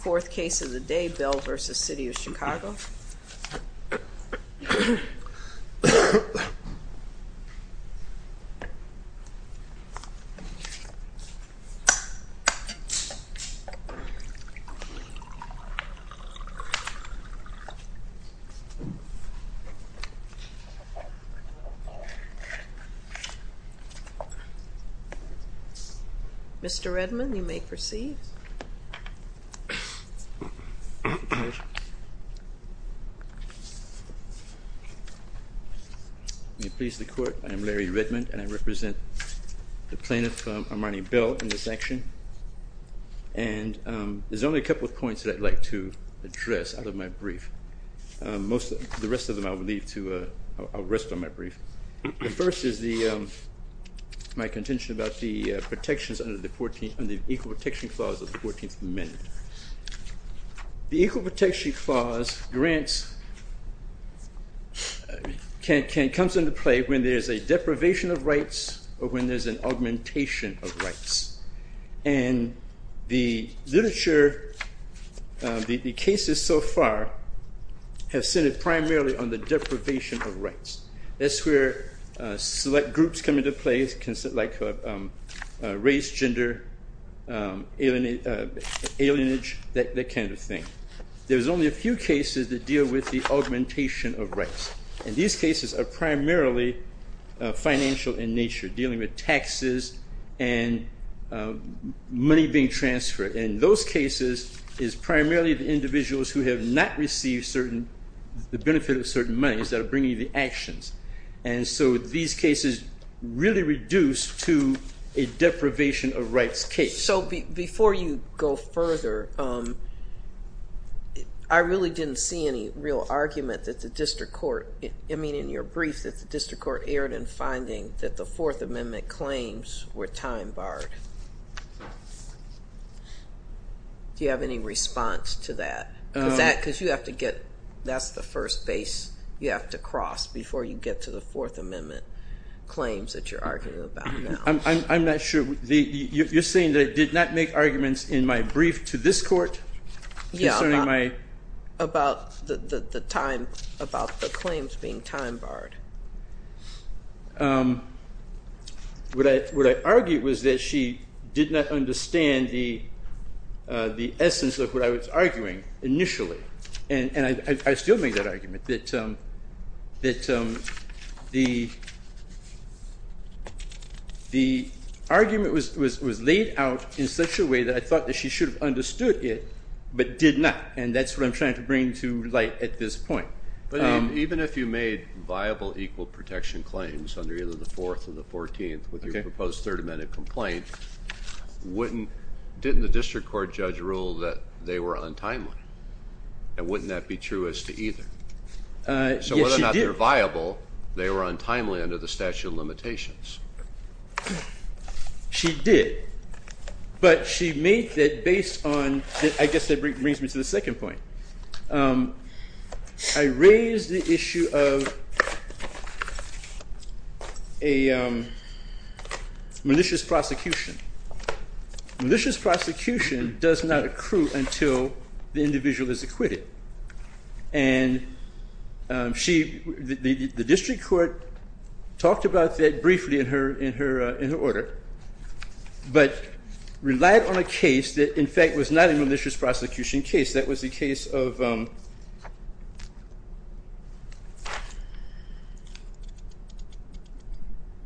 Fourth case of the day, Bell v. City of Chicago Mr. Redmond, you may proceed May it please the court, I am Larry Redmond and I represent the plaintiff, Armani Bell, in this action And there's only a couple of points that I'd like to address out of my brief The rest of them I'll leave to, I'll rest on my brief The first is my contention about the protections under the Equal Protection Clause of the 14th Amendment The Equal Protection Clause grants, comes into play when there's a deprivation of rights or when there's an augmentation of rights And the literature, the cases so far, have centered primarily on the deprivation of rights That's where select groups come into play, like race, gender, alienage, that kind of thing There's only a few cases that deal with the augmentation of rights And these cases are primarily financial in nature, dealing with taxes and money being transferred And those cases is primarily the individuals who have not received certain, the benefit of certain monies that are bringing the actions And so these cases really reduce to a deprivation of rights case So before you go further, I really didn't see any real argument that the district court I mean in your brief that the district court erred in finding that the Fourth Amendment claims were time barred Do you have any response to that? Because you have to get, that's the first base you have to cross before you get to the Fourth Amendment claims that you're arguing about now I'm not sure, you're saying that I did not make arguments in my brief to this court Yeah, about the time, about the claims being time barred What I argued was that she did not understand the essence of what I was arguing initially And I still make that argument, that the argument was laid out in such a way that I thought that she should have understood it But did not, and that's what I'm trying to bring to light at this point But even if you made viable equal protection claims under either the Fourth or the Fourteenth with your proposed Third Amendment complaint Wouldn't, didn't the district court judge rule that they were untimely? And wouldn't that be true as to either? So whether or not they're viable, they were untimely under the statute of limitations She did, but she made that based on, I guess that brings me to the second point I raised the issue of a malicious prosecution Malicious prosecution does not accrue until the individual is acquitted And she, the district court talked about that briefly in her order But relied on a case that in fact was not a malicious prosecution case That was the case of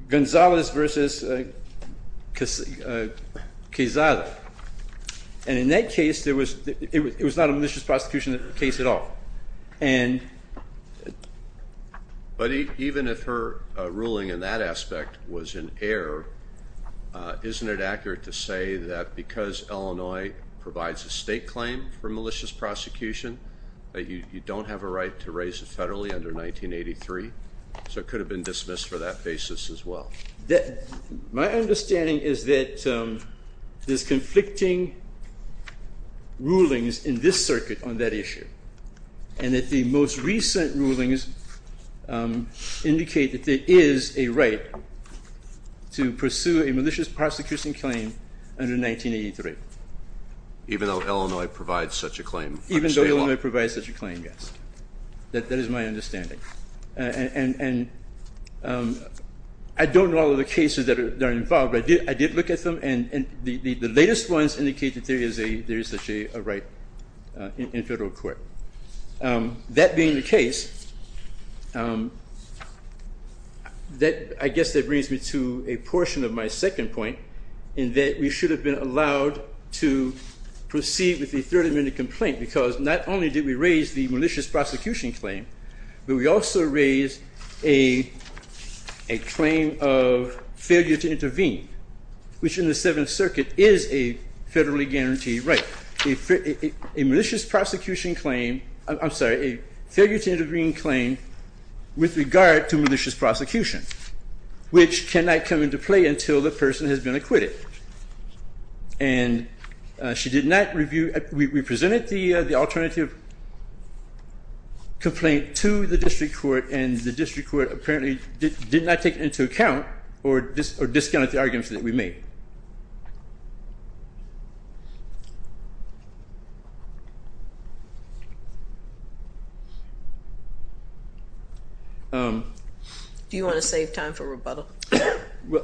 Gonzales v. Quezada And in that case, it was not a malicious prosecution case at all But even if her ruling in that aspect was in error Isn't it accurate to say that because Illinois provides a state claim for malicious prosecution That you don't have a right to raise it federally under 1983 So it could have been dismissed for that basis as well My understanding is that there's conflicting rulings in this circuit on that issue And that the most recent rulings indicate that there is a right To pursue a malicious prosecution claim under 1983 Even though Illinois provides such a claim Even though Illinois provides such a claim, yes That is my understanding And I don't know all of the cases that are involved But I did look at them and the latest ones indicate that there is such a right in federal court That being the case, I guess that brings me to a portion of my second point In that we should have been allowed to proceed with the third amendment complaint Because not only did we raise the malicious prosecution claim But we also raised a claim of failure to intervene Which in the Seventh Circuit is a federally guaranteed right A malicious prosecution claim I'm sorry, a failure to intervene claim with regard to malicious prosecution Which cannot come into play until the person has been acquitted And we presented the alternative complaint to the district court And the district court apparently did not take it into account Or discounted the arguments that we made Do you want to save time for rebuttal?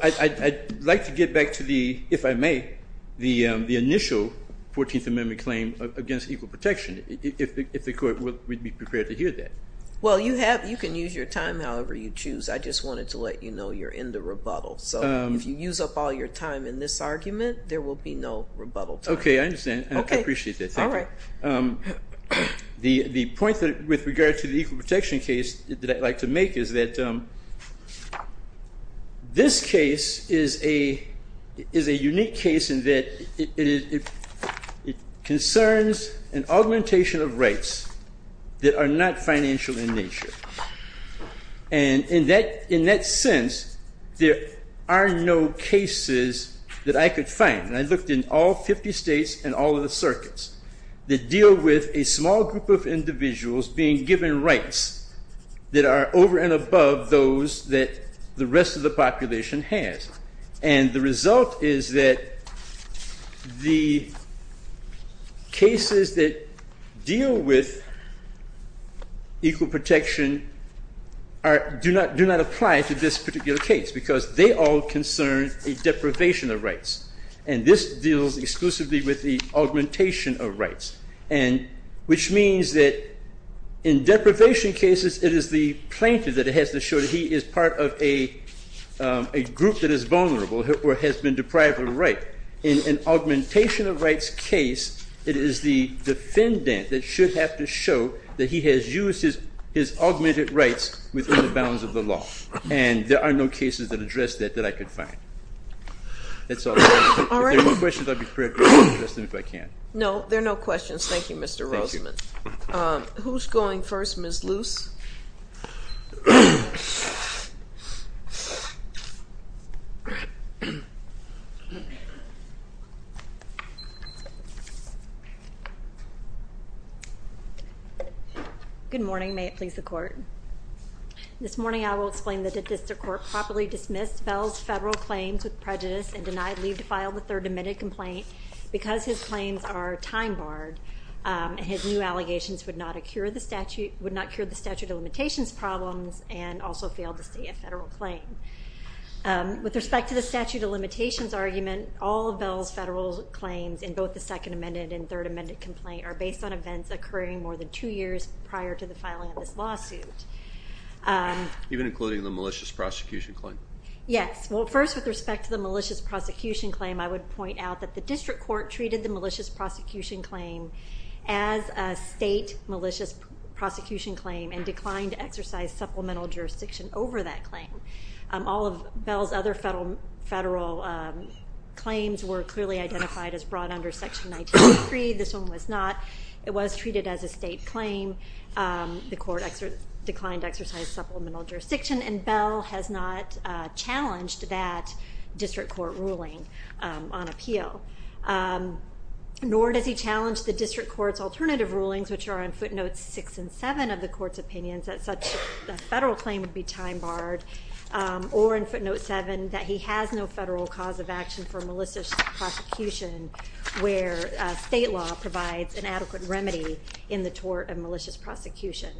I'd like to get back to the, if I may The initial Fourteenth Amendment claim against equal protection If the court would be prepared to hear that Well, you can use your time however you choose I just wanted to let you know you're in the rebuttal So if you use up all your time in this argument, there will be no rebuttal time Okay, I understand. I appreciate that. Thank you The point with regard to the equal protection case that I'd like to make is that This case is a unique case in that It concerns an augmentation of rights That are not financial in nature And in that sense There are no cases that I could find And I looked in all 50 states and all of the circuits That deal with a small group of individuals being given rights That are over and above those that the rest of the population has And the result is that The cases that deal with Equal protection Do not apply to this particular case Because they all concern a deprivation of rights And this deals exclusively with the augmentation of rights Which means that in deprivation cases It is the plaintiff that has to show that he is part of a A group that is vulnerable or has been deprived of a right In an augmentation of rights case It is the defendant that should have to show That he has used his augmented rights Within the bounds of the law And there are no cases that address that that I could find If there are no questions I'll be quick No, there are no questions, thank you Mr. Roseman Who's going first, Ms. Luce? Good morning, may it please the court This morning I will explain that the district court properly dismissed Bell's federal claims with prejudice and denied leave to file the third Amended complaint because his claims are time barred And his new allegations would not Cure the statute of limitations problems And also fail to see a federal claim With respect to the statute of limitations argument All of Bell's federal claims in both the second amended and third amended Complaint are based on events occurring more than two years Prior to the filing of this lawsuit Even including the malicious prosecution claim? Yes, well first with respect to the malicious prosecution claim I would point out that the district court treated the malicious prosecution Claim as a state malicious Prosecution claim and declined to exercise supplemental Jurisdiction over that claim All of Bell's other federal claims Were clearly identified as brought under section 193 This one was not, it was treated as a state claim The court declined to exercise supplemental jurisdiction And Bell has not challenged that District court ruling on appeal Nor does he challenge the district court's Alternative rulings which are on footnotes 6 and 7 Of the court's opinions that such a federal claim would be time barred Or in footnote 7 that he has No federal cause of action for malicious prosecution Where state law provides an adequate Remedy in the tort of malicious prosecution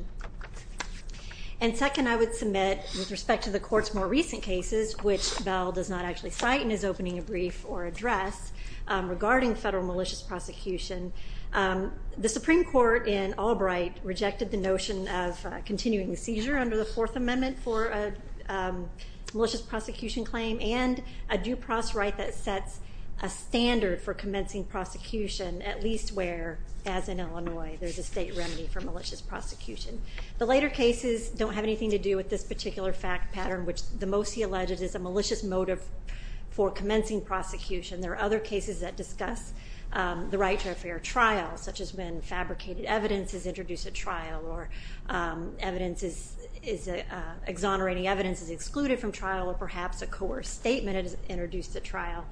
And second I would submit with respect To the court's more recent cases which Bell does not actually Cite in his opening brief or address Regarding federal malicious prosecution The Supreme Court in Albright rejected the notion of Continuing the seizure under the fourth amendment for A malicious prosecution claim and A due process right that sets a standard for In Illinois there's a state remedy for malicious prosecution The later cases don't have anything to do with this particular Fact pattern which the most he alleges is a malicious motive For commencing prosecution. There are other cases that discuss The right to a fair trial such as when Fabricated evidence is introduced at trial or Evidence is, exonerating evidence Is excluded from trial or perhaps a coerced statement Is introduced at trial.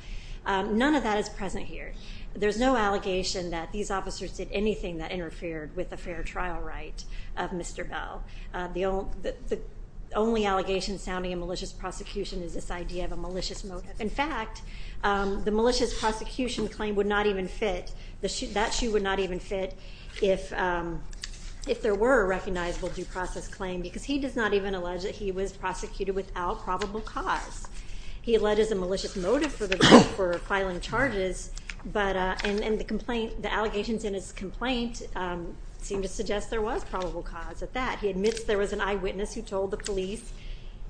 None of that is present here There's no allegation that these officers did anything That interfered with a fair trial right of Mr. Bell The only allegation Sounding a malicious prosecution is this idea of a malicious motive In fact the malicious prosecution claim Would not even fit, that shoe would not even fit If there were a recognizable Due process claim because he does not even allege that he was Prosecuted without probable cause He alleges a malicious motive for the right for filing Charges and the allegations in his Complaint seem to suggest there was probable cause At that. He admits there was an eyewitness who told the police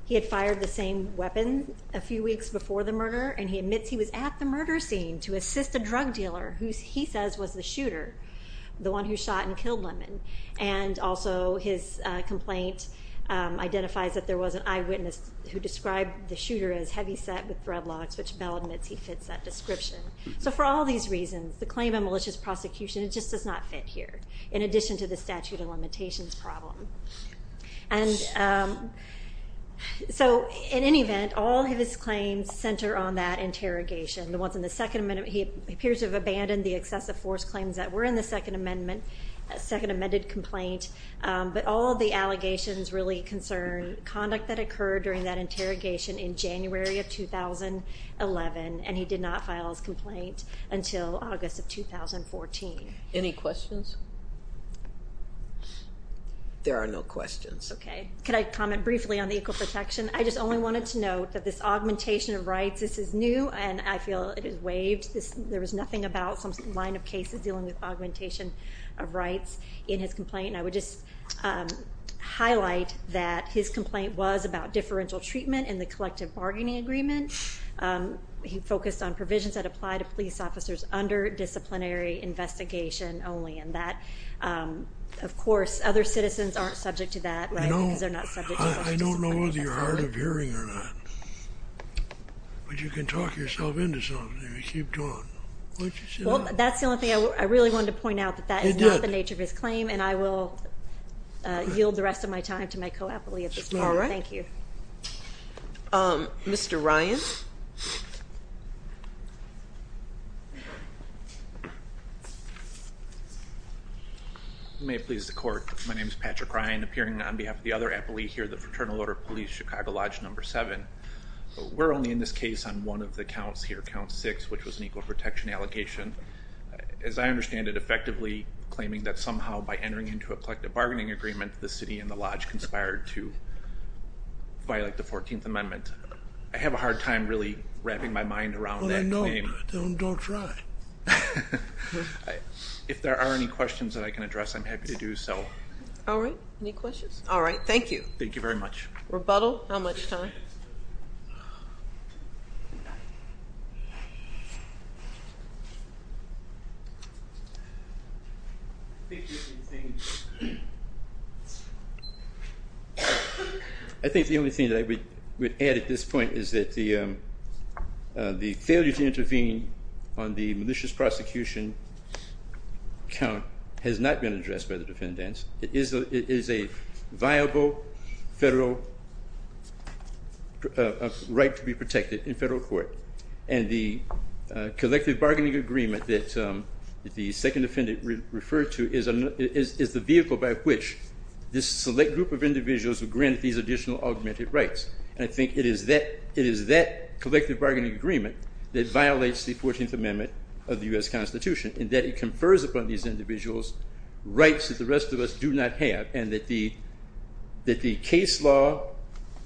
He had fired the same weapon A few weeks before the murder and he admits he was at the murder scene To assist a drug dealer who he says was the shooter The one who shot and killed Lemon And also his complaint identifies That there was an eyewitness who described the shooter as Heavyset with dreadlocks which Bell admits he fits that description So for all these reasons the claim of malicious prosecution Just does not fit here in addition to the statute of limitations Problem So in any event all of his claims Center on that interrogation the ones in the second amendment He appears to have abandoned the excessive force claims that were in the Second amendment, second amended complaint But all the allegations really concern Conduct that occurred during that interrogation in January Of 2011 and he did not file his Complaint until August of 2014 Any questions There are no questions. Okay. Can I comment briefly on the Equal protection. I just only wanted to note that this augmentation Of rights this is new and I feel it is waived There was nothing about some line of cases dealing with This Highlight that his complaint was about differential treatment in the Collective bargaining agreement He focused on provisions that apply to police officers under Disciplinary investigation only and that Of course other citizens aren't subject to that Right because they're not subject to I don't know whether you're hard of hearing or not But you can talk yourself into something if you keep doing Well that's the only thing I really wanted to point out that That is not the nature of his claim and I will Yield the rest of my time to my co-appellee at this time. Thank you Mr. Ryan May it please the court. My name is Patrick Ryan appearing on behalf Of the other appellee here the Fraternal Order of Police Chicago Lodge Number 7. We're only in this case on one of the As I understand it effectively claiming that somehow by entering Into a collective bargaining agreement the city and the lodge Conspired to violate the 14th amendment I have a hard time really wrapping my mind around Don't try If there are any questions that I can address I'm happy to do so All right. Any questions. All right. Thank you. Thank you very much Rebuttal. How much time I think The only thing I think the only thing that I would add at this point is that The failure to intervene On the malicious prosecution Count has not been addressed by the defendants It is a viable federal Right to be protected In federal court and the Collective bargaining agreement that The second defendant referred to is a Vehicle by which this select group of individuals Who grant these additional augmented rights And I think it is that collective bargaining agreement That violates the 14th amendment of the U.S. Constitution In that it confers upon these individuals Rights that the rest of us do not have and that the Case law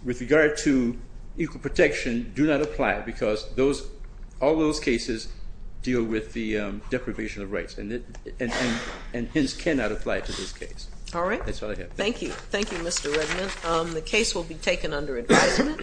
with regard to Equal protection do not apply because All those cases deal with the deprivation of rights And hence cannot apply to this case All right. Thank you. Thank you, Mr. Redmond The case will be taken under advisement